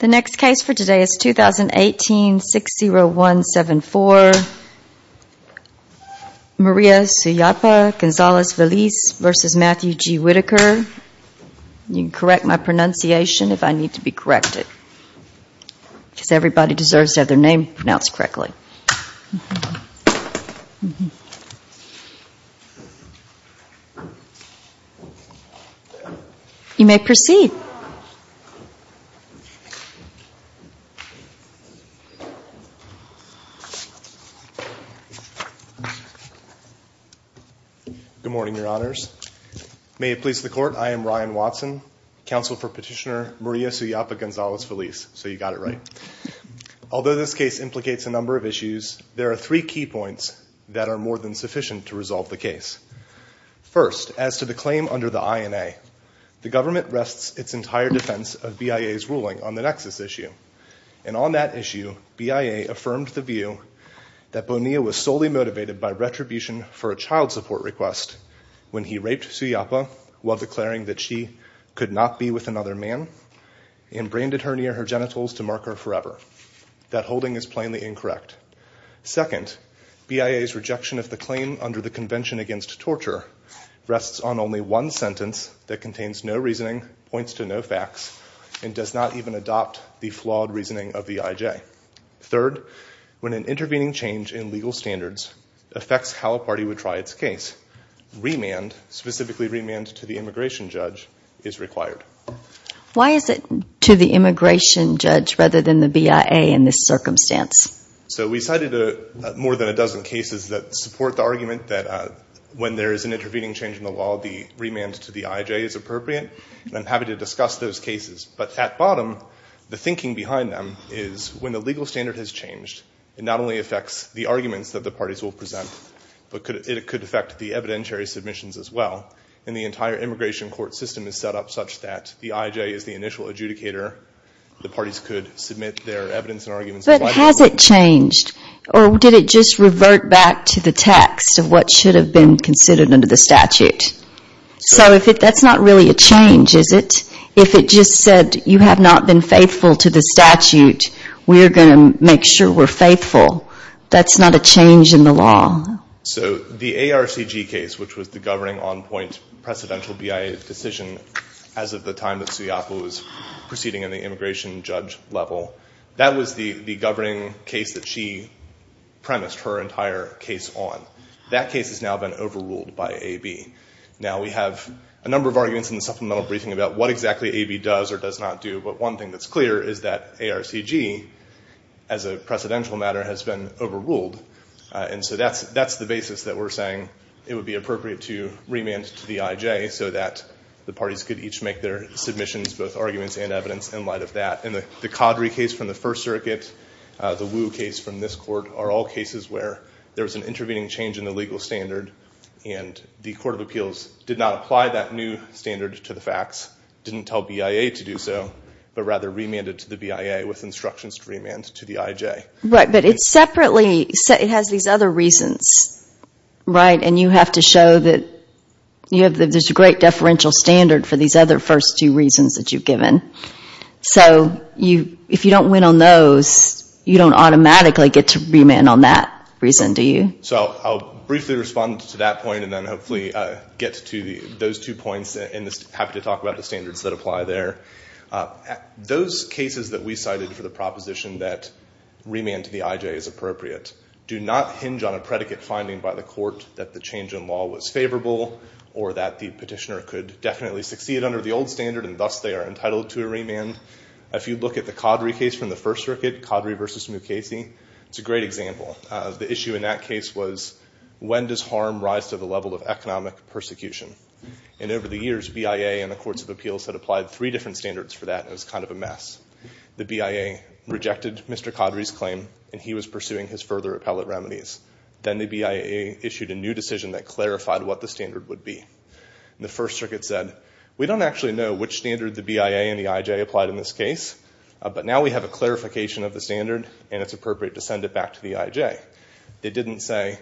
You can correct my pronunciation if I need to be corrected, because everybody deserves to have their name pronounced correctly. You may proceed. Good morning, Your Honors. May it please the Court, I am Ryan Watson, Counsel for Petitioner Maria Suyapa Gonzales-Veliz, so you got it right. Although this case implicates a number of issues, there are three key points that are more than sufficient to resolve the case. First, as to the claim under the INA, the government rests its entire defense of BIA's ruling on the nexus issue. And on that issue, BIA affirmed the view that Bonilla was solely motivated by retribution for a child support request when he raped Suyapa while declaring that she could not be with another man, and branded her near her genitals to mark her forever. That holding is plainly incorrect. Second, BIA's rejection of the claim under the Convention Against Torture rests on only one sentence that contains no reasoning, points to no facts, and does not even adopt the flawed reasoning of the IJ. Third, when an intervening change in legal standards affects how a party would try its case, specifically remand to the immigration judge is required. Why is it to the immigration judge rather than the BIA in this circumstance? So we cited more than a dozen cases that support the argument that when there is an intervening change in the law, the remand to the IJ is appropriate. I'm happy to discuss those cases. But at bottom, the thinking behind them is when the legal standard has changed, it not only affects the arguments that the parties will present, but it could affect the evidentiary submissions as well. And the entire immigration court system is set up such that the IJ is the initial adjudicator. The parties could submit their evidence and arguments. But has it changed? Or did it just revert back to the text of what should have been considered under the statute? So that's not really a change, is it? If it just said you have not been faithful to the statute, we're going to make sure we're faithful. That's not a change in the law. So the ARCG case, which was the governing on-point precedential BIA decision as of the time that Suyappa was proceeding in the immigration judge level, that was the governing case that she premised her entire case on. That case has now been overruled by AB. Now, we have a number of arguments in the supplemental briefing about what exactly AB does or does not do. But one thing that's clear is that ARCG, as a precedential matter, has been overruled. And so that's the basis that we're saying it would be appropriate to remand to the IJ so that the parties could each make their submissions, both arguments and evidence, in light of that. And the Caudry case from the First Circuit, the Wu case from this court, are all cases where there was an intervening change in the legal standard and the Court of Appeals did not apply that new standard to the facts, didn't tell BIA to do so, but rather remanded to the BIA with instructions to remand to the IJ. Right, but it's separately, it has these other reasons, right? And you have to show that there's a great deferential standard for these other first two reasons that you've given. So if you don't win on those, you don't automatically get to remand on that reason, do you? So I'll briefly respond to that point and then hopefully get to those two points and happy to talk about the standards that apply there. Those cases that we cited for the proposition that remand to the IJ is appropriate do not hinge on a predicate finding by the court that the change in law was favorable or that the petitioner could definitely succeed under the old standard and thus they are entitled to a remand. If you look at the Caudry case from the First Circuit, Caudry versus Mukasey, it's a great example. The issue in that case was when does harm rise to the level of economic persecution? And over the years, BIA and the Courts of Appeals had applied three different standards for that and it was kind of a mess. The BIA rejected Mr. Caudry's claim and he was pursuing his further appellate remedies. Then the BIA issued a new decision that clarified what the standard would be. The First Circuit said, we don't actually know which standard the BIA and the IJ applied in this case, but now we have a clarification of the standard and it's appropriate to send it back to the IJ. They didn't say,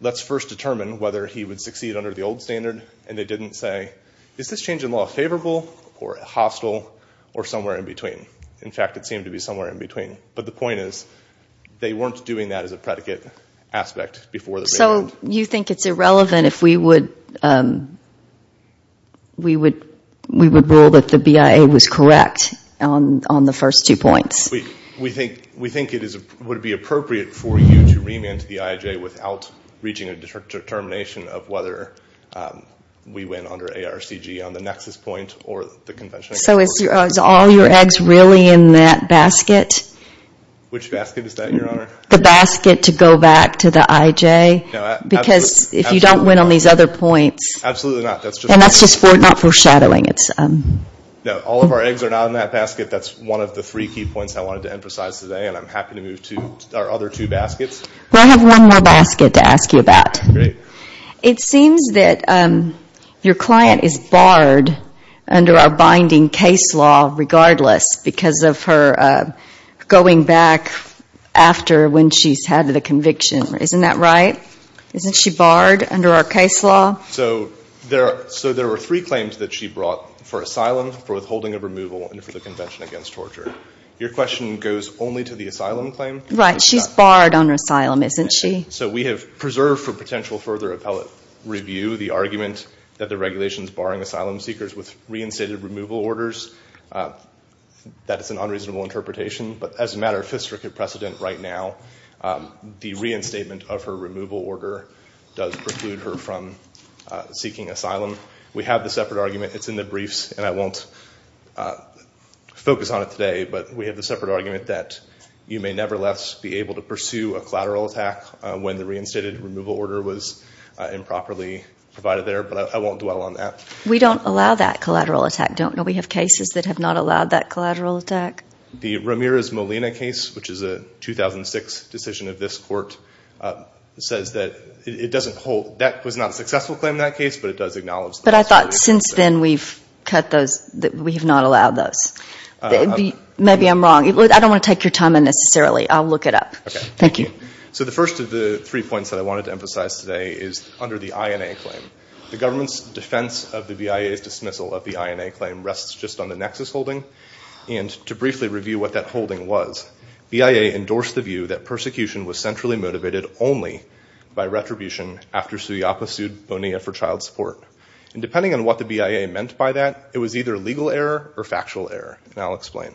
let's first determine whether he would succeed under the old standard and they didn't say, is this change in law favorable or hostile or somewhere in between? In fact, it seemed to be somewhere in between. But the point is, they weren't doing that as a predicate aspect before the remand. So you think it's irrelevant if we would rule that the BIA was correct on the first two points? We think it would be appropriate for you to remand to the IJ without reaching a determination of whether we win under ARCG on the nexus point or the convention. So is all your eggs really in that basket? Which basket is that, Your Honor? The basket to go back to the IJ? Because if you don't win on these other points, and that's just for not foreshadowing, it's No, all of our eggs are not in that basket. That's one of the three key points I wanted to emphasize today and I'm happy to move to our other two baskets. Well, I have one more basket to ask you about. It seems that your client is barred under our binding case law regardless because of her going back after when she's had the conviction. Isn't that right? Isn't she barred under our case law? So there were three claims that she brought for asylum, for withholding of removal, and for the convention against torture. Your question goes only to the asylum claim? Right. She's barred under asylum, isn't she? So we have preserved for potential further appellate review the argument that the regulations barring asylum seekers with reinstated removal orders. That is an unreasonable interpretation, but as a matter of fiscal precedent right now, the reinstatement of her removal order does preclude her from seeking asylum. We have the separate argument. It's in the briefs and I won't focus on it today, but we have the separate argument that you may nevertheless be able to pursue a collateral attack when the reinstated removal order was improperly provided there, but I won't dwell on that. We don't allow that collateral attack, don't we? We have cases that have not allowed that collateral attack. The Ramirez-Molina case, which is a 2006 decision of this court, says that it doesn't hold. That was not a successful claim in that case, but it does acknowledge the possibility. But I thought since then we've cut those, we have not allowed those. Maybe I'm wrong. I don't want to take your time unnecessarily. I'll look it up. Thank you. So the first of the three points that I wanted to emphasize today is under the INA claim. The government's defense of the BIA's dismissal of the INA claim rests just on the Nexus holding and to briefly review what that holding was, BIA endorsed the view that persecution was Depending on what the BIA meant by that, it was either legal error or factual error, and I'll explain.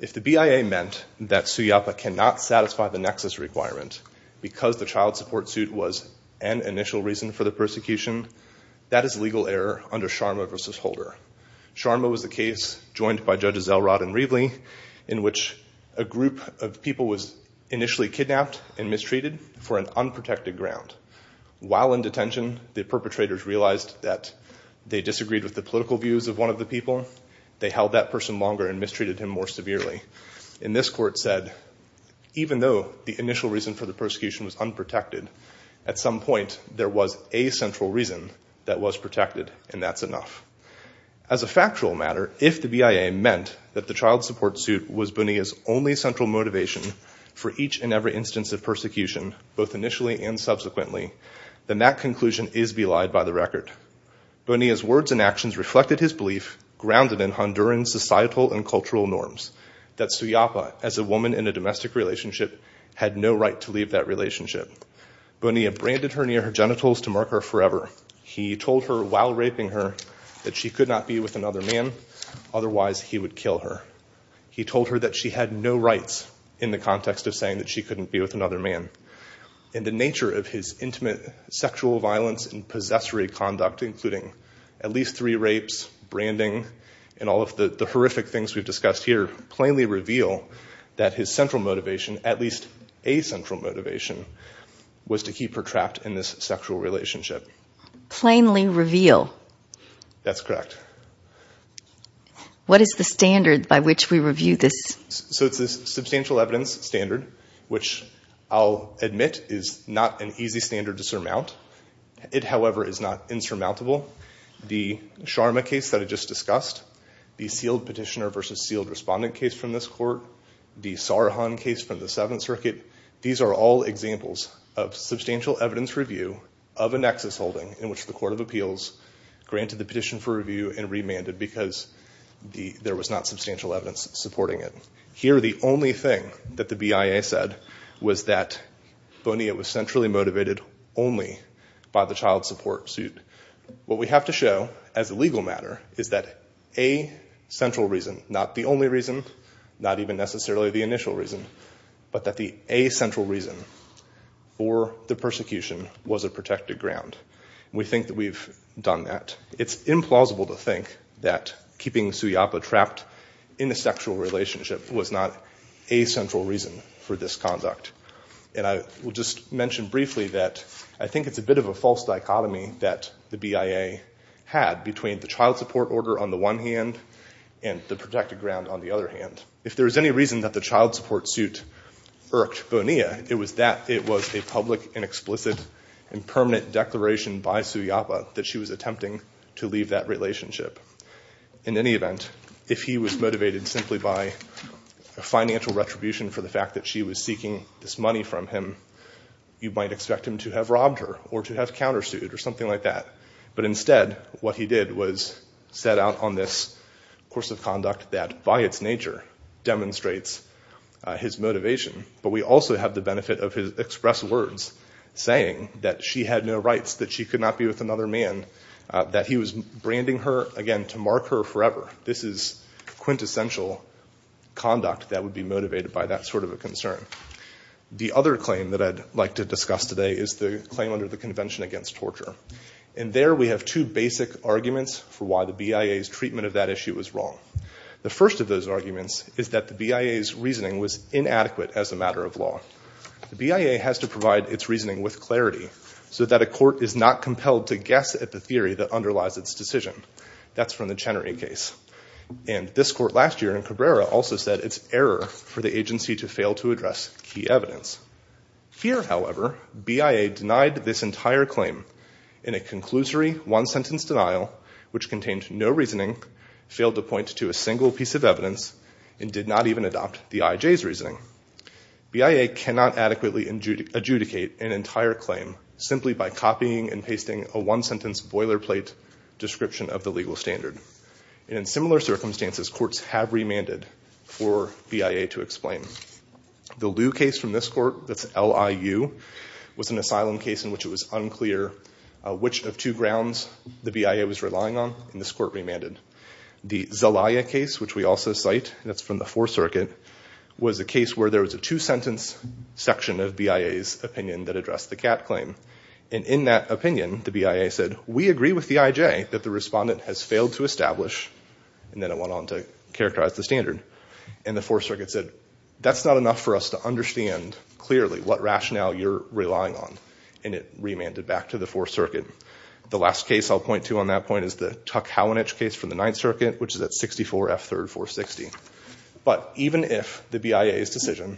If the BIA meant that Suyapa cannot satisfy the Nexus requirement because the child support suit was an initial reason for the persecution, that is legal error under Sharma v. Holder. Sharma was the case joined by Judges Elrod and Riedley in which a group of people was initially kidnapped and mistreated for an unprotected ground. While in detention, the disagreed with the political views of one of the people, they held that person longer and mistreated him more severely. In this court said, even though the initial reason for the persecution was unprotected, at some point there was a central reason that was protected and that's enough. As a factual matter, if the BIA meant that the child support suit was Bonilla's only central motivation for each and every instance of persecution, both initially and subsequently, then that conclusion is belied by the record. Bonilla's words and actions reflected his belief grounded in Honduran societal and cultural norms that Suyapa, as a woman in a domestic relationship, had no right to leave that relationship. Bonilla branded her near her genitals to mark her forever. He told her while raping her that she could not be with another man, otherwise he would kill her. He told her that she had no rights in the context of saying that she couldn't be with another man. The nature of his intimate sexual violence and possessory conduct, including at least three rapes, branding, and all of the horrific things we've discussed here, plainly reveal that his central motivation, at least a central motivation, was to keep her trapped in this sexual relationship. Plainly reveal? That's correct. What is the standard by which we review this? It's a substantial evidence standard, which I'll admit is not an easy standard to surmount. It, however, is not insurmountable. The Sharma case that I just discussed, the sealed petitioner versus sealed respondent case from this court, the Sarhan case from the Seventh Circuit, these are all examples of substantial evidence review of a nexus holding in which the Court of Appeals granted the petition for review and remanded because there was not substantial evidence supporting it. Here the only thing that the BIA said was that Bonilla was centrally motivated only by the child support suit. What we have to show, as a legal matter, is that a central reason, not the only reason, not even necessarily the initial reason, but that the a central reason for the persecution was a protected ground. We think that we've done that. It's implausible to think that keeping Suyappa trapped in a sexual relationship was not a central reason for this conduct. And I will just mention briefly that I think it's a bit of a false dichotomy that the BIA had between the child support order on the one hand and the protected ground on the other hand. If there was any reason that the child support suit irked Bonilla, it was that it was a public and explicit and permanent declaration by Suyappa that she was attempting to leave that relationship. In any event, if he was motivated simply by a financial retribution for the fact that she was seeking this money from him, you might expect him to have robbed her or to have countersued or something like that. But instead, what he did was set out on this course of conduct that, by its nature, demonstrates his motivation. But we also have the benefit of his express words saying that she had no rights, that she could not be with another man, that he was branding her, again, to mark her forever. This is quintessential conduct that would be motivated by that sort of a concern. The other claim that I'd like to discuss today is the claim under the Convention Against Torture. And there we have two basic arguments for why the BIA's treatment of that issue was wrong. The first of those arguments is that the BIA's reasoning was inadequate as a matter of law. The BIA has to provide its reasoning with clarity so that a court is not compelled to guess at the theory that underlies its decision. That's from the Chenery case. And this court last year in Cabrera also said it's error for the agency to fail to address key evidence. Here, however, BIA denied this entire claim in a conclusory one-sentence denial which contained no reasoning, failed to point to a single piece of evidence, and BIA cannot adequately adjudicate an entire claim simply by copying and pasting a one-sentence boilerplate description of the legal standard. In similar circumstances, courts have remanded for BIA to explain. The Liu case from this court, that's L-I-U, was an asylum case in which it was unclear which of two grounds the BIA was relying on, and this court remanded. The Zelaya case, which we also cite, that's from the Fourth Circuit, was a case where there was a two-sentence section of BIA's opinion that addressed the Catt claim. And in that opinion, the BIA said, we agree with the IJ that the respondent has failed to establish, and then it went on to characterize the standard. And the Fourth Circuit said, that's not enough for us to understand clearly what rationale you're relying on, and it remanded back to the Fourth Circuit. The last case I'll point to on that point is the Tuck-Howanich case from the Ninth Circuit, which is at 64 F. 3rd, 460. But even if the BIA's decision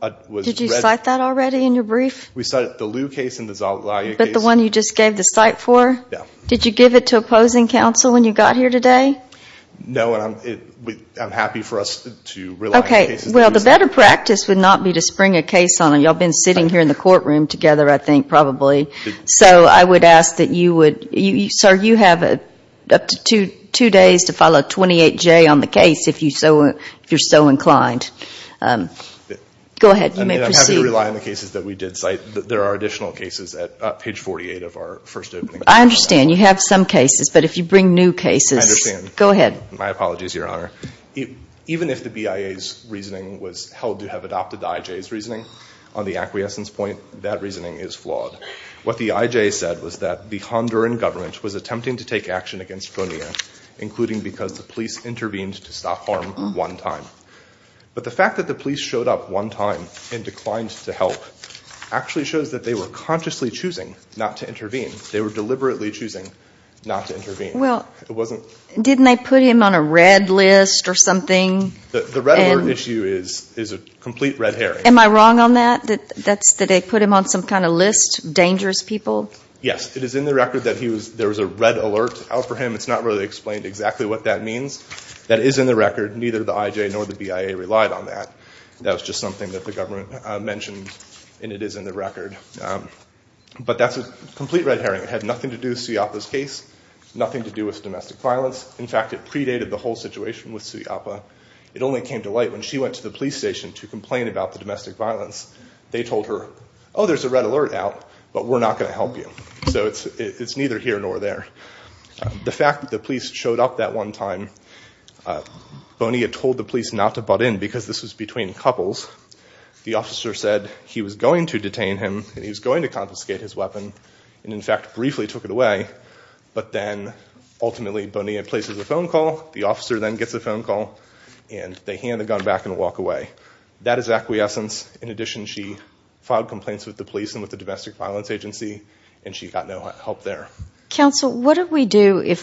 was read— Did you cite that already in your brief? We cited the Liu case and the Zelaya case. But the one you just gave the cite for? Yeah. Did you give it to opposing counsel when you got here today? No, and I'm happy for us to rely on cases— Okay. Well, the better practice would not be to spring a case on them. Y'all been sitting here in the courtroom together, I think, probably. So I would ask that you would—sir, you have up to two days to follow 28J on the case, if you're so inclined. Go ahead. You may proceed. I mean, I'm happy to rely on the cases that we did cite. There are additional cases at page 48 of our first opening— I understand. You have some cases. But if you bring new cases— I understand. Go ahead. My apologies, Your Honor. Even if the BIA's reasoning was held to have adopted the IJ's reasoning, on the acquiescence point, that reasoning is flawed. What the IJ said was that the Honduran government was attempting to take action against Bonilla, including because the police intervened to stop harm one time. But the fact that the police showed up one time and declined to help actually shows that they were consciously choosing not to intervene. They were deliberately choosing not to intervene. Well— It wasn't— Didn't they put him on a red list or something? The Red Alert issue is a complete red herring. Am I wrong on that? That they put him on some kind of list of dangerous people? Yes. It is in the record that there was a red alert out for him. It's not really explained exactly what that means. That is in the record. Neither the IJ nor the BIA relied on that. That was just something that the government mentioned, and it is in the record. But that's a complete red herring. It had nothing to do with Ciapa's case, nothing to do with domestic violence. In fact, it predated the whole situation with Ciapa. It only came to light when she went to the police station to complain about the domestic violence. They told her, oh, there's a red alert out, but we're not going to help you. So it's neither here nor there. The fact that the police showed up that one time, Bonilla told the police not to butt in because this was between couples. The officer said he was going to detain him and he was going to confiscate his weapon and, in fact, briefly took it away. But then, ultimately, Bonilla places a phone call, the officer then gets a phone call, and they hand the gun back and walk away. That is acquiescence. In addition, she filed complaints with the police and with the domestic violence agency, and she got no help there. Q. Counsel, what do we do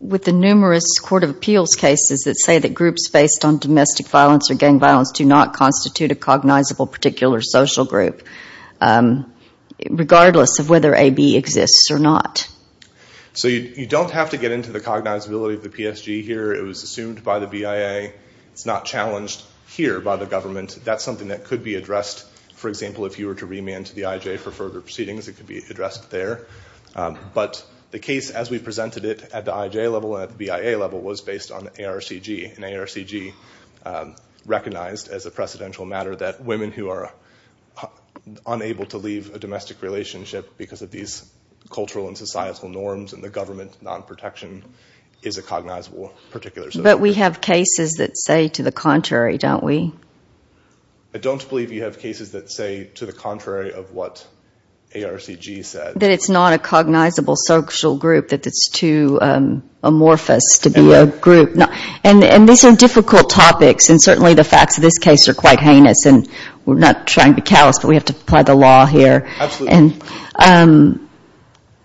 with the numerous court of appeals cases that say that groups based on domestic violence or gang violence do not constitute a cognizable particular social group, regardless of whether AB exists or not? A. So you don't have to get into the cognizability of the PSG here. It was assumed by the BIA. It's not challenged here by the government. That's something that could be addressed, for example, if you were to remand to the IJ for further proceedings. It could be addressed there. But the case as we presented it at the IJ level and at the BIA level was based on ARCG, and ARCG recognized as a precedential matter that women who are unable to leave a domestic relationship because of these cultural and societal norms and the government non-protection is a cognizable particular social group. Q. But we have cases that say to the contrary, don't we? A. I don't believe you have cases that say to the contrary of what ARCG said. Q. That it's not a cognizable social group, that it's too amorphous to be a group. And these are difficult topics, and certainly the facts of this case are quite heinous, and we're not trying to be callous, but we have to apply the law here. A. Absolutely. Q.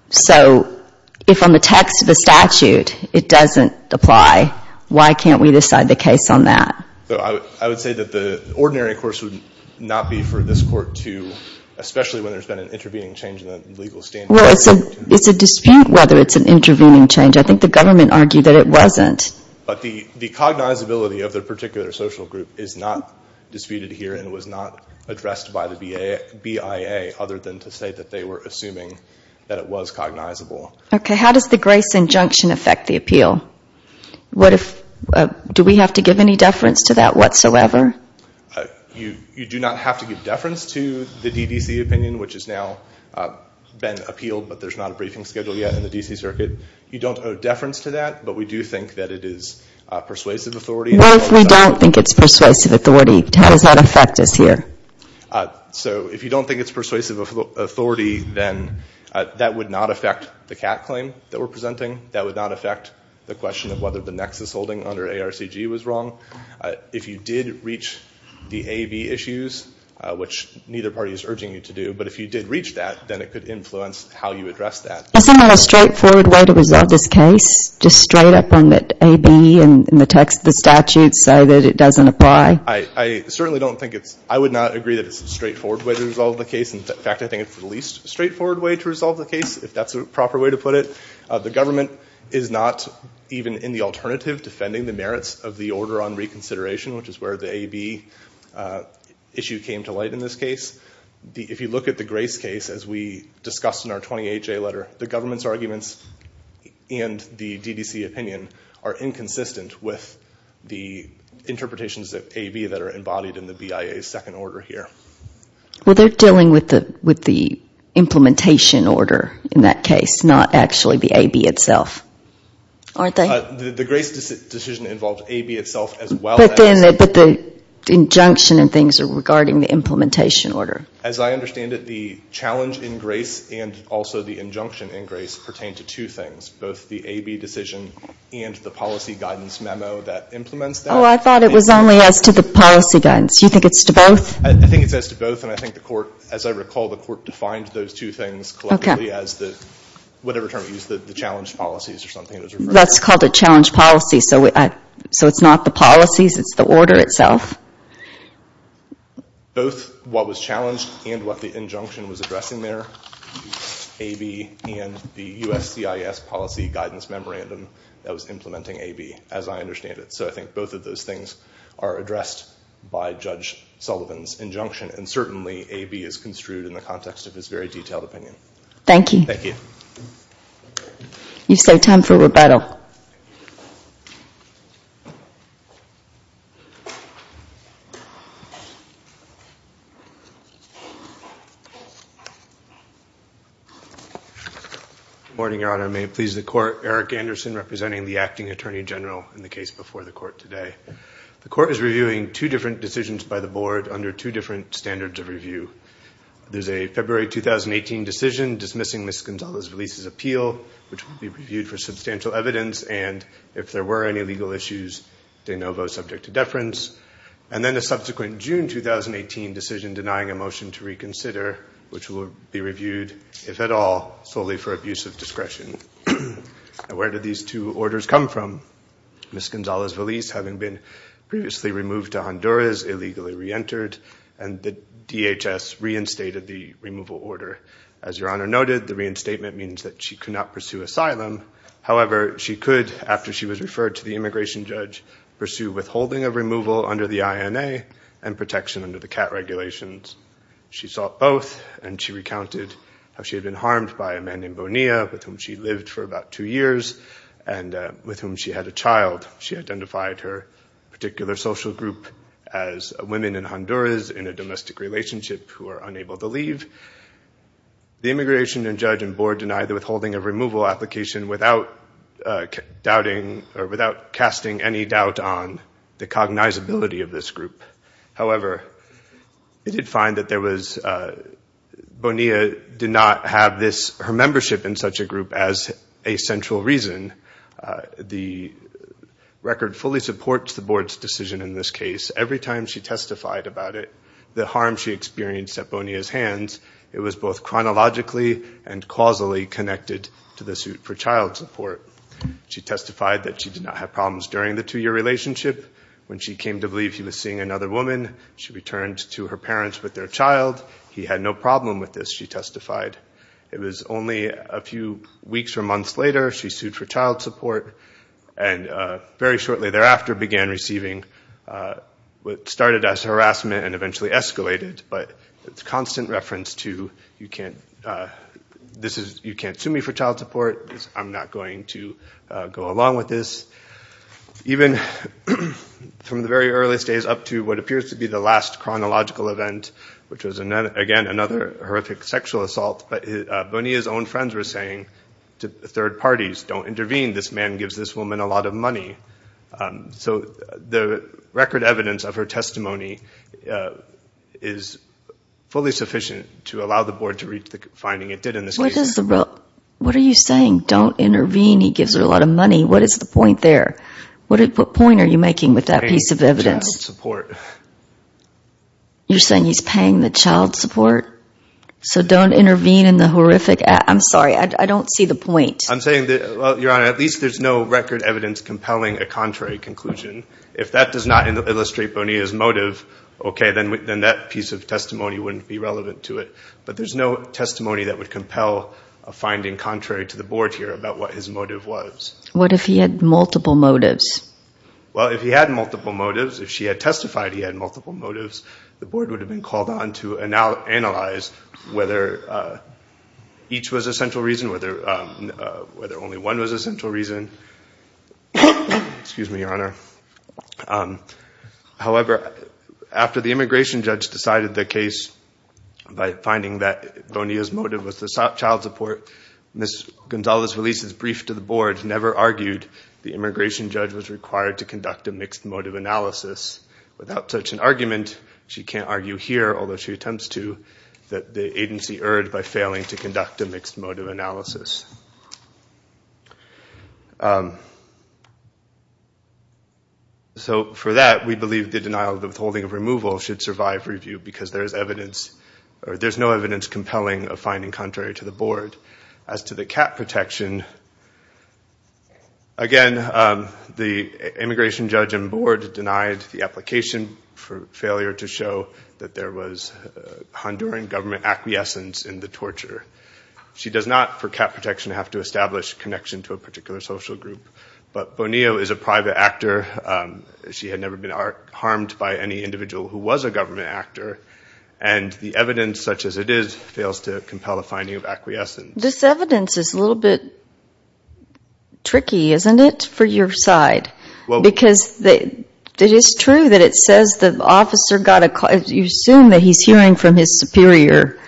So if on the text of the statute it doesn't apply, why can't we decide the case on that? A. I would say that the ordinary course would not be for this court to, especially when there's been an intervening change in the legal standard. Q. Well, it's a dispute whether it's an intervening change. I think the government argued that it wasn't. A. But the cognizability of the particular social group is not disputed here, and it was not addressed by the BIA other than to say that they were assuming that it was cognizable. Q. Okay. How does the Grace injunction affect the appeal? What if, do we have to give any deference to that whatsoever? A. You do not have to give deference to the DDC opinion, which has now been appealed, but there's not a briefing schedule yet in the D.C. Circuit. You don't owe deference to that, but we do think that it is persuasive authority. Q. What if we don't think it's persuasive authority? How does that affect us here? A. So if you don't think it's persuasive authority, then that would not affect the CAT claim that we're presenting. That would not affect the question of whether the nexus holding under ARCG was wrong. If you did reach the AB issues, which neither party is urging you to do, but if you did reach that, then it could influence how you address that. Q. Isn't there a straightforward way to resolve this case? Just straight up on the AB in the text of the statute so that it doesn't apply? A. I certainly don't think it's, I would not agree that it's a straightforward way to resolve the case. In fact, I think it's the least straightforward way to resolve the case, if that's a proper way to put it. The government is not even in the alternative defending the merits of the order on reconsideration, which is where the AB issue came to light in this case. If you look at the Grace case, as we discussed in our 28-J letter, the government's arguments and the DDC opinion are inconsistent with the interpretations of AB that are embodied in the BIA's second order here. Q. Well, they're dealing with the implementation order in that case, not actually the AB itself, aren't they? A. The Grace decision involved AB itself as well. Q. But the injunction and things are regarding the implementation order. A. As I understand it, the challenge in Grace and also the injunction in Grace pertain to two things, both the AB decision and the policy guidance memo that implements that. Q. Oh, I thought it was only as to the policy guidance. Do you think it's to both? A. I think it's as to both, and I think the court, as I recall, the court defined those two things collectively as the, whatever term you used, the challenge policies or something. Q. That's called a challenge policy, so it's not the policies, it's the order itself? A. Both what was challenged and what the injunction was addressing there, AB and the USCIS policy guidance memorandum that was implementing AB, as I understand it. So I think both of those things are addressed by Judge Sullivan's injunction, and certainly AB is construed in the context of his very detailed opinion. Q. Thank you. A. Thank you. MS. GONZALES. You've saved time for rebuttal. MR. ERIK ANDERSON. Good morning, Your Honor. May it please the Court, Erik Anderson representing the Acting Attorney General in the case before the Court today. The Court is reviewing two different decisions by the Board under two different standards of review. There's a February 2018 decision dismissing Ms. Gonzalez-Veliz's appeal, which will be reviewed for substantial evidence, and if there were any legal issues, de novo, subject to deference. And then a subsequent June 2018 decision denying a motion to reconsider, which will be reviewed, if at all, solely for abuse of discretion. Now, where did these two orders come from? Ms. Gonzalez-Veliz, having been previously removed to Honduras, illegally reentered, and the DHS reinstated the removal order. As Your Honor noted, the reinstatement means that she could not pursue asylum. However, she could, after she was referred to the immigration judge, pursue withholding of removal under the INA and protection under the CAT regulations. She sought both, and she recounted how she had been harmed by a man in Bonilla with whom she lived for about two years and with whom she had a child. She identified her particular social group as women in Honduras in a brief. The immigration judge and board denied the withholding of removal application without casting any doubt on the cognizability of this group. However, they did find that Bonilla did not have her membership in such a group as a central reason. The record fully supports the board's decision in this case. Every time she testified about it, the harm she experienced at was both chronologically and causally connected to the suit for child support. She testified that she did not have problems during the two-year relationship. When she came to believe he was seeing another woman, she returned to her parents with their child. He had no problem with this, she testified. It was only a few weeks or months later she sued for child support, and very shortly thereafter began receiving what started as harassment and eventually escalated, but it's a constant reference to, you can't sue me for child support, I'm not going to go along with this. Even from the very early days up to what appears to be the last chronological event, which was again another horrific sexual assault, Bonilla's own friends were saying to third parties, don't intervene, this man gives this woman a lot of money. So the record evidence of her testimony is fully sufficient to allow the board to reach the finding it did in this case. What are you saying? Don't intervene, he gives her a lot of money, what is the point there? What point are you making with that piece of evidence? You're saying he's paying the child support, so don't intervene in the horrific, I'm sorry, I don't see the point. I'm saying that, well, your honor, at least there's no record evidence compelling a contrary conclusion. If that does not illustrate Bonilla's motive, okay, then that piece of testimony wouldn't be relevant to it. But there's no testimony that would compel a finding contrary to the board here about what his motive was. What if he had multiple motives? Well, if he had multiple motives, if she had testified he had multiple motives, the board would have been called on to analyze whether each was a central reason, whether only one was a central reason. However, after the immigration judge decided the case by finding that Bonilla's motive was the child support, Ms. Gonzalez released a brief to the board, never argued the immigration judge was required to conduct a mixed motive analysis. Without such an argument, she can't argue here, although she attempts to, that the agency erred by failing to conduct a mixed motive analysis. So for that, we believe the denial of the withholding of removal should survive review because there's evidence, or there's no evidence compelling a finding contrary to the board. As to the cat protection, again, the immigration judge and board denied the application for Honduran government acquiescence in the torture. She does not, for cat protection, have to establish connection to a particular social group. But Bonilla is a private actor. She had never been harmed by any individual who was a government actor. And the evidence, such as it is, fails to compel a finding of acquiescence. This evidence is a little bit tricky, isn't it, for your side? Because it is true that it says the officer got a call. You assume that he's hearing from his superior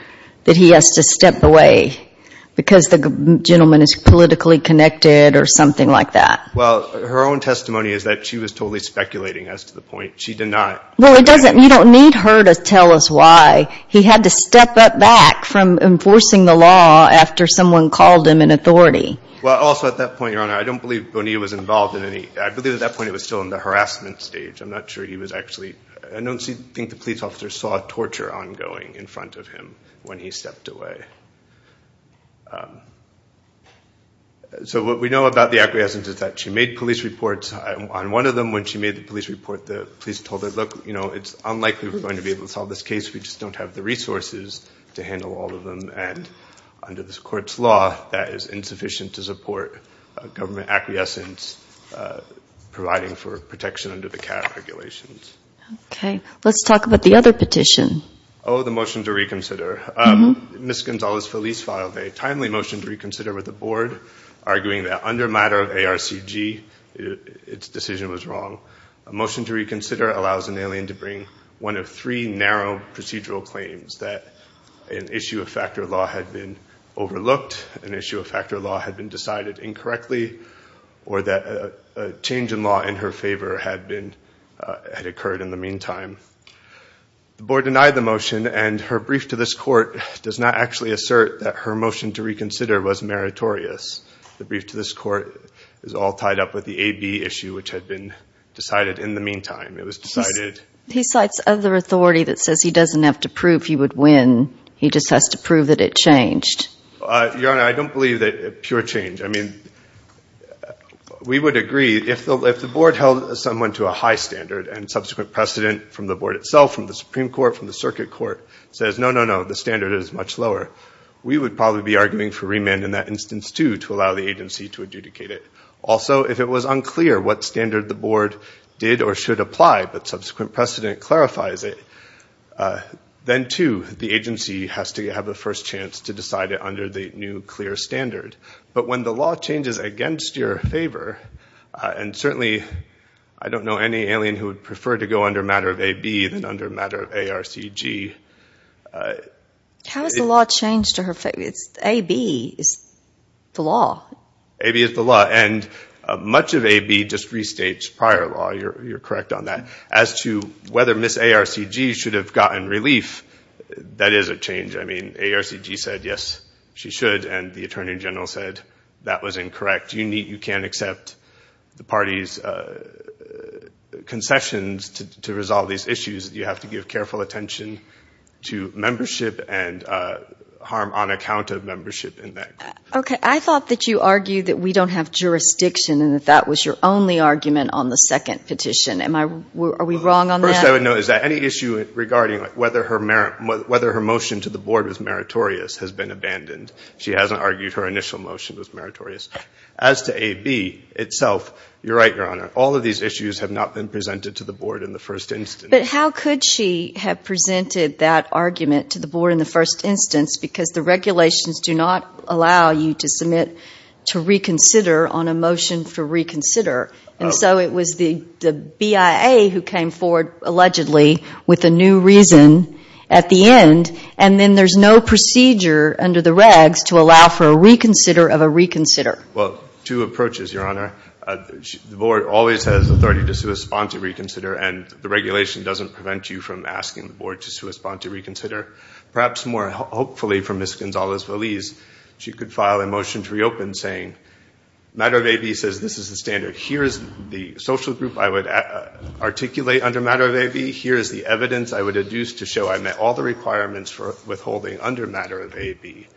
that he has to step away because the gentleman is politically connected or something like that. Well, her own testimony is that she was totally speculating as to the point. She denied. Well, it doesn't, you don't need her to tell us why. He had to step back from enforcing the law after someone called him an authority. Well, also at that point, Your Honor, I don't believe Bonilla was involved in any, I believe at that point it was still in the harassment stage. I'm not sure he was actually involved. I don't think the police officer saw torture ongoing in front of him when he stepped away. So what we know about the acquiescence is that she made police reports. On one of them, when she made the police report, the police told her, look, you know, it's unlikely we're going to be able to solve this case. We just don't have the resources to handle all of them. And under this court's law, that is insufficient to support a government acquiescence providing for protection under the CAF regulations. Okay. Let's talk about the other petition. Oh, the motion to reconsider. Ms. Gonzalez-Feliz filed a timely motion to reconsider with the board arguing that under matter of ARCG, its decision was wrong. A motion to reconsider allows an alien to bring one of three narrow procedural claims that an issue of factor law had been overlooked, an issue of factor law had been decided incorrectly, or that a change in law in her had occurred in the meantime. The board denied the motion and her brief to this court does not actually assert that her motion to reconsider was meritorious. The brief to this court is all tied up with the AB issue, which had been decided in the meantime. It was decided... He cites other authority that says he doesn't have to prove he would win. He just has to prove that it changed. Your Honor, I don't believe that pure change. I mean, we would agree if the board held someone to a high standard and subsequent precedent from the board itself, from the Supreme Court, from the circuit court says, no, no, no, the standard is much lower. We would probably be arguing for remand in that instance too, to allow the agency to adjudicate it. Also, if it was unclear what standard the board did or should apply, but subsequent precedent clarifies it, then too, the agency has to have a first chance to decide it new clear standard. But when the law changes against your favor, and certainly I don't know any alien who would prefer to go under matter of AB than under matter of ARCG. How has the law changed to her favor? It's AB is the law. AB is the law. And much of AB just restates prior law. You're correct on that. As to whether Ms. She should, and the attorney general said that was incorrect. You need, you can't accept the party's concessions to resolve these issues. You have to give careful attention to membership and harm on account of membership in that. Okay. I thought that you argued that we don't have jurisdiction and that that was your only argument on the second petition. Am I, are we wrong on that? First, I would note, is there any issue regarding whether her merit, whether her motion to the she hasn't argued her initial motion was meritorious. As to AB itself, you're right, Your Honor. All of these issues have not been presented to the board in the first instance. But how could she have presented that argument to the board in the first instance? Because the regulations do not allow you to submit to reconsider on a motion for reconsider. And so it was the BIA who came forward allegedly with a new reason at the end. And then there's no procedure under the regs to allow for a reconsider of a reconsider. Well, two approaches, Your Honor. The board always has authority to suspend to reconsider and the regulation doesn't prevent you from asking the board to suspend to reconsider. Perhaps more hopefully for Ms. Gonzalez-Valiz, she could file a motion to reopen saying matter of AB says this is the standard. Here's the social group I would articulate under matter of AB. Here's the evidence I would deduce to show I met all requirements for withholding under matter of AB.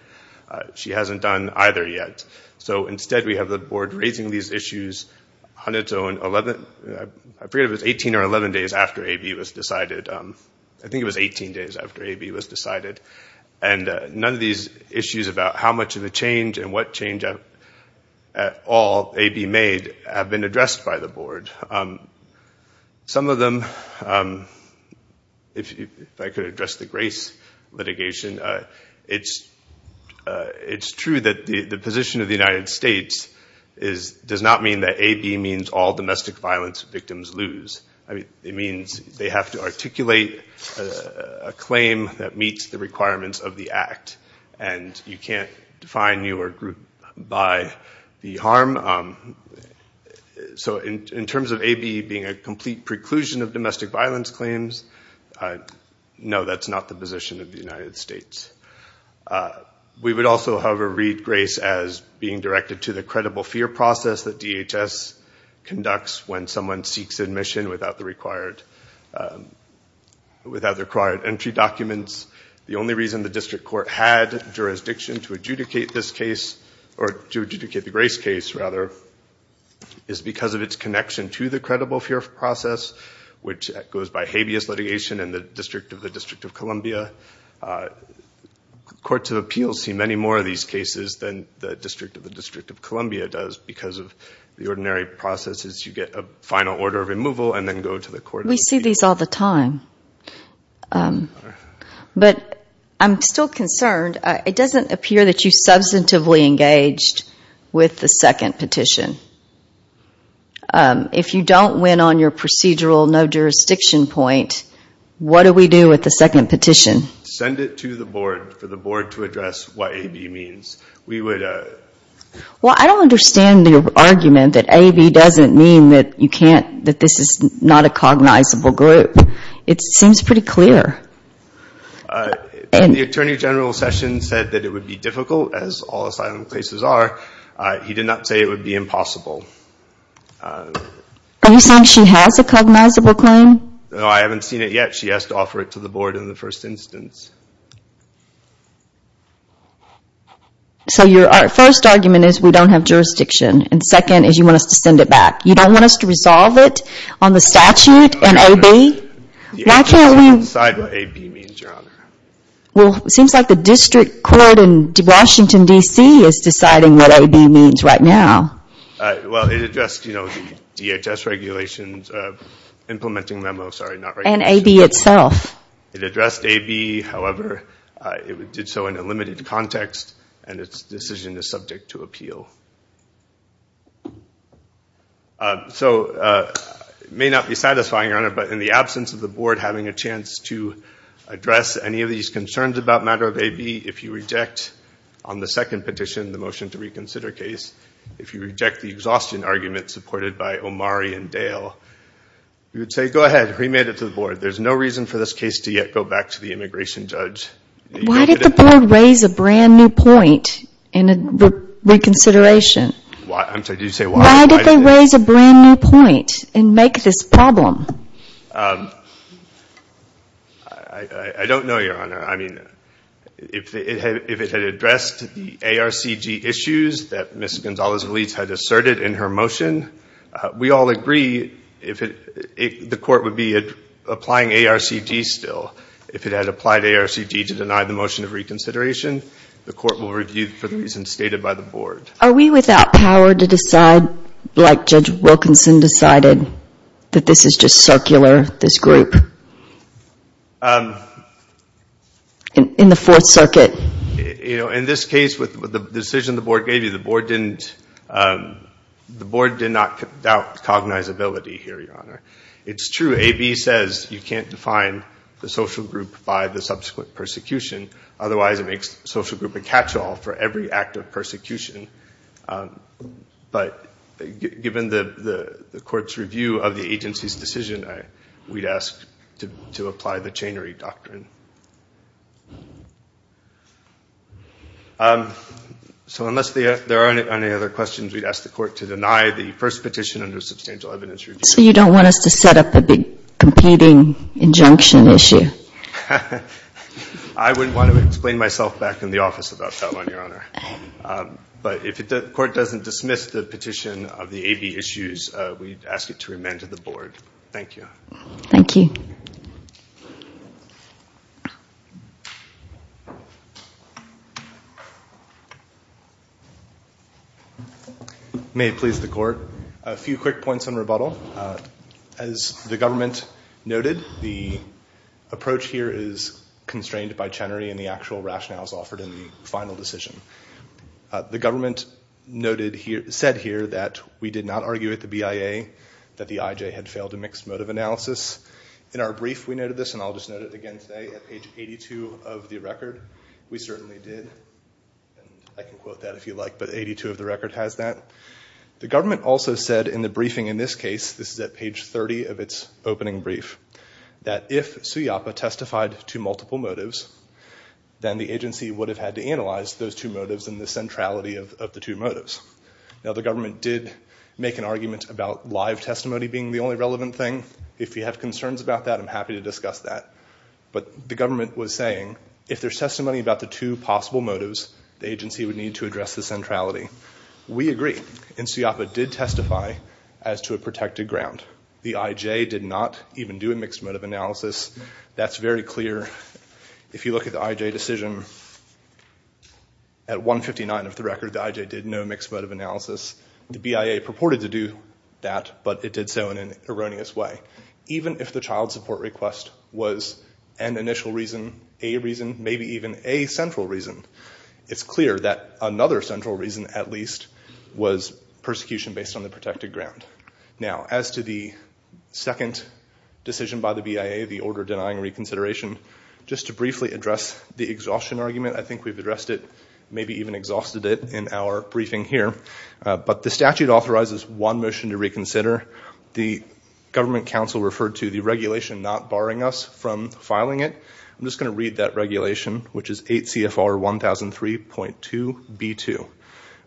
She hasn't done either yet. So instead, we have the board raising these issues on its own. I forget if it was 18 or 11 days after AB was decided. I think it was 18 days after AB was decided. And none of these issues about how much of a change and what change at all AB made have been addressed by the board. Some of them, if I could address the grace litigation, it's true that the position of the United States does not mean that AB means all domestic violence victims lose. It means they have to articulate a claim that meets the requirements of the act. And you can't define you or group by the harm. So in terms of AB being a complete preclusion of domestic violence claims, no, that's not the position of the United States. We would also, however, read grace as being directed to the credible fear process that DHS conducts when someone seeks admission without the required entry documents. The only reason the district court had jurisdiction to adjudicate this case, or to adjudicate the grace case, rather, is because of its connection to the credible fear process, which goes by habeas litigation in the District of the District of Columbia. Courts of Appeals see many more of these cases than the District of the District of Columbia does. Because of the ordinary processes, you get a final order of removal and then go to the court. We see these all the time. But I'm still concerned. It doesn't appear that you substantively engaged with the second petition. If you don't win on your procedural no-jurisdiction point, what do we do with the second petition? Send it to the board for the board to address what AB means. Well, I don't understand the argument that AB doesn't mean that this is not a cognizable group. It seems pretty clear. The Attorney General's session said that it would be difficult, as all asylum cases are. He did not say it would be impossible. Are you saying she has a cognizable claim? No, I haven't seen it yet. She has to offer it to the board in the first instance. So your first argument is we don't have jurisdiction, and second is you want us to send it back. You don't want us to resolve it on the statute and AB? The agency doesn't decide what AB means, Your Honor. Well, it seems like the district court in Washington, D.C. is deciding what AB means right now. Well, it addressed, you know, the DHS regulations implementing memo, sorry, not regulations. And AB itself. It addressed AB. However, it did so in a limited context, and its decision is subject to appeal. So, it may not be satisfying, Your Honor, but in the absence of the board having a chance to address any of these concerns about matter of AB, if you reject on the second petition, the motion to reconsider case, if you reject the exhaustion argument supported by Omari and Dale, you would say, go ahead, remit it to the board. There's no reason for this case to yet go back to the immigration judge. Why did the board raise a brand new point in a reconsideration case? I'm sorry, did you say why? Why did they raise a brand new point and make this problem? I don't know, Your Honor. I mean, if it had addressed the ARCG issues that Ms. Gonzalez-Valiz had asserted in her motion, we all agree, the court would be applying ARCG still. If it had applied ARCG to deny the motion of reconsideration, the court will review for the reasons stated by the board. Are we without power to decide, like Judge Wilkinson decided, that this is just circular, this group, in the Fourth Circuit? In this case, with the decision the board gave you, the board did not doubt cognizability here, Your Honor. It's true, AB says you can't define the social group by the subsequent persecution. Otherwise, it makes the social group a catch-all for every act of persecution. But given the court's review of the agency's decision, we'd ask to apply the chainery doctrine. So unless there are any other questions, we'd ask the court to deny the first petition under substantial evidence review. So you don't want us to set up a big competing injunction issue? I wouldn't want to explain myself back in the office about that one, Your Honor. But if the court doesn't dismiss the petition of the AB issues, we'd ask it to remand to the board. Thank you. Thank you. May it please the court, a few quick points on rebuttal. As the government noted, the approach here is constrained by chainery and the actual rationales offered in the final decision. The government said here that we did not argue at the BIA that the IJ had failed a mixed motive analysis. In our brief, we noted this, and I'll just note it again today, at page 82 of the record, we certainly did. I can quote that if you like, but 82 of the record has that. The government also said in the briefing in this case, this is at page 30 of its opening brief, that if Suyappa testified to multiple motives, then the agency would have had to analyze those two motives and the centrality of the two motives. Now the government did make an argument about live testimony being the only relevant thing. If you have concerns about that, I'm happy to discuss that. But the government was saying if there's testimony about the two possible motives, the agency would need to address the centrality. We agree, and Suyappa did testify as to a protected ground. The IJ did not even do a mixed motive analysis. That's very clear. If you look at the IJ decision, at 159 of the record, the IJ did no mixed motive analysis. The BIA purported to do that, but it did so in an erroneous way. Even if the child support request was an initial reason, a reason, maybe even a central reason, it's clear that another central reason, at least, was persecution based on the protected ground. Now, as to the second decision by the BIA, the order denying reconsideration, just to briefly address the exhaustion argument, I think we've addressed it, maybe even exhausted it, in our briefing here. But the statute authorizes one motion to reconsider. The government counsel referred to the regulation not barring us from filing it. I'm just going to read that regulation, which is 8 CFR 1003.2b2.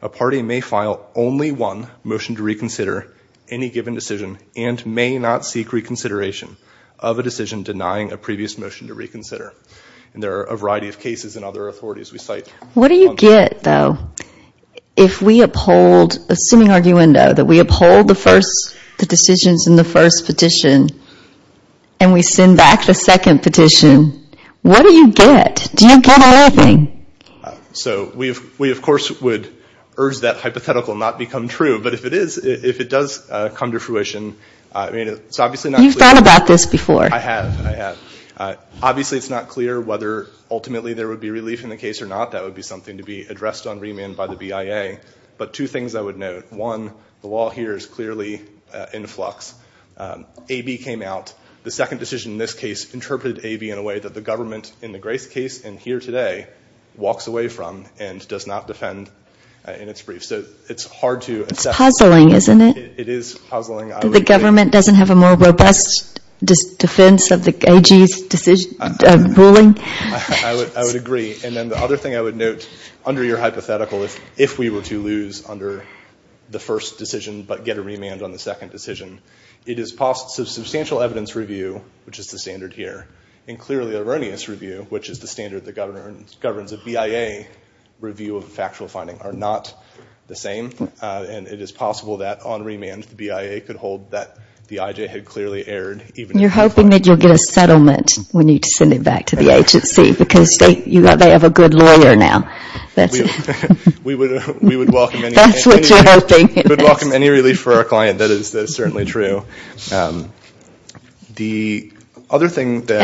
A party may file only one motion to reconsider any given decision and may not seek reconsideration of a decision denying a previous motion to reconsider. There are a variety of cases and other authorities we cite. What do you get, though, if we uphold a sitting arguendo, that we uphold the first, the first petition, and we send back the second petition? What do you get? Do you get anything? So we, of course, would urge that hypothetical not become true. But if it is, if it does come to fruition, I mean, it's obviously not clear. You've thought about this before. I have. I have. Obviously, it's not clear whether ultimately there would be relief in the case or not. That would be something to be addressed on remand by the BIA. But two things I would note. One, the law here is clearly in flux. AB came out. The second decision in this case interpreted AB in a way that the government, in the Grace case and here today, walks away from and does not defend in its brief. So it's hard to... It's puzzling, isn't it? It is puzzling. The government doesn't have a more robust defense of the AG's ruling? I would agree. And then the other thing I would note, under your hypothetical, if we were to lose under the first decision but get a remand on the second decision, it is possible... Substantial evidence review, which is the standard here, and clearly erroneous review, which is the standard that governs a BIA review of factual finding, are not the same. And it is possible that on remand, the BIA could hold that the IJ had clearly erred. You're hoping that you'll get a settlement when you send it back to the agency because they have a good lawyer now. That's what you're hoping. We would welcome any relief for our client. That is certainly true. And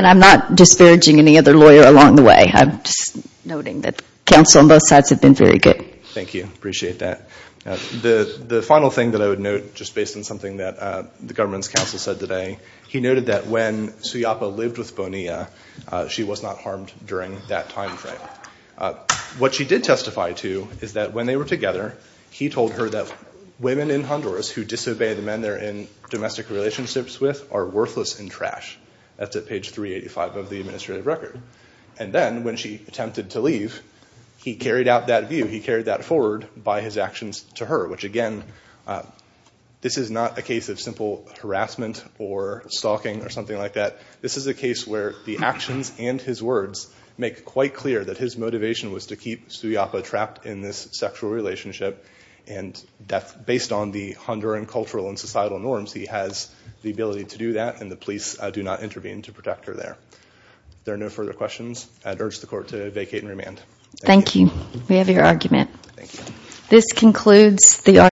I'm not disparaging any other lawyer along the way. I'm just noting that counsel on both sides have been very good. Thank you. Appreciate that. The final thing that I would note, just based on something that the government's counsel said today, he noted that when Suyapa lived with Bonilla, she was not harmed during that time frame. What she did testify to is that when they were together, he told her that women in Honduras who disobey the men they're in domestic relationships with are worthless and trash. That's at page 385 of the administrative record. And then when she attempted to leave, he carried out that view. He carried that forward by his actions to her, which again, this is not a case of simple harassment or stalking or something like that. This is a case where the actions and his words make quite clear that his motivation was to keep Suyapa trapped in this sexual relationship. And based on the Honduran cultural and societal norms, he has the ability to do that and the police do not intervene to protect her there. If there are no further questions, I'd urge the court to vacate and remand. Thank you. We have your argument. This concludes the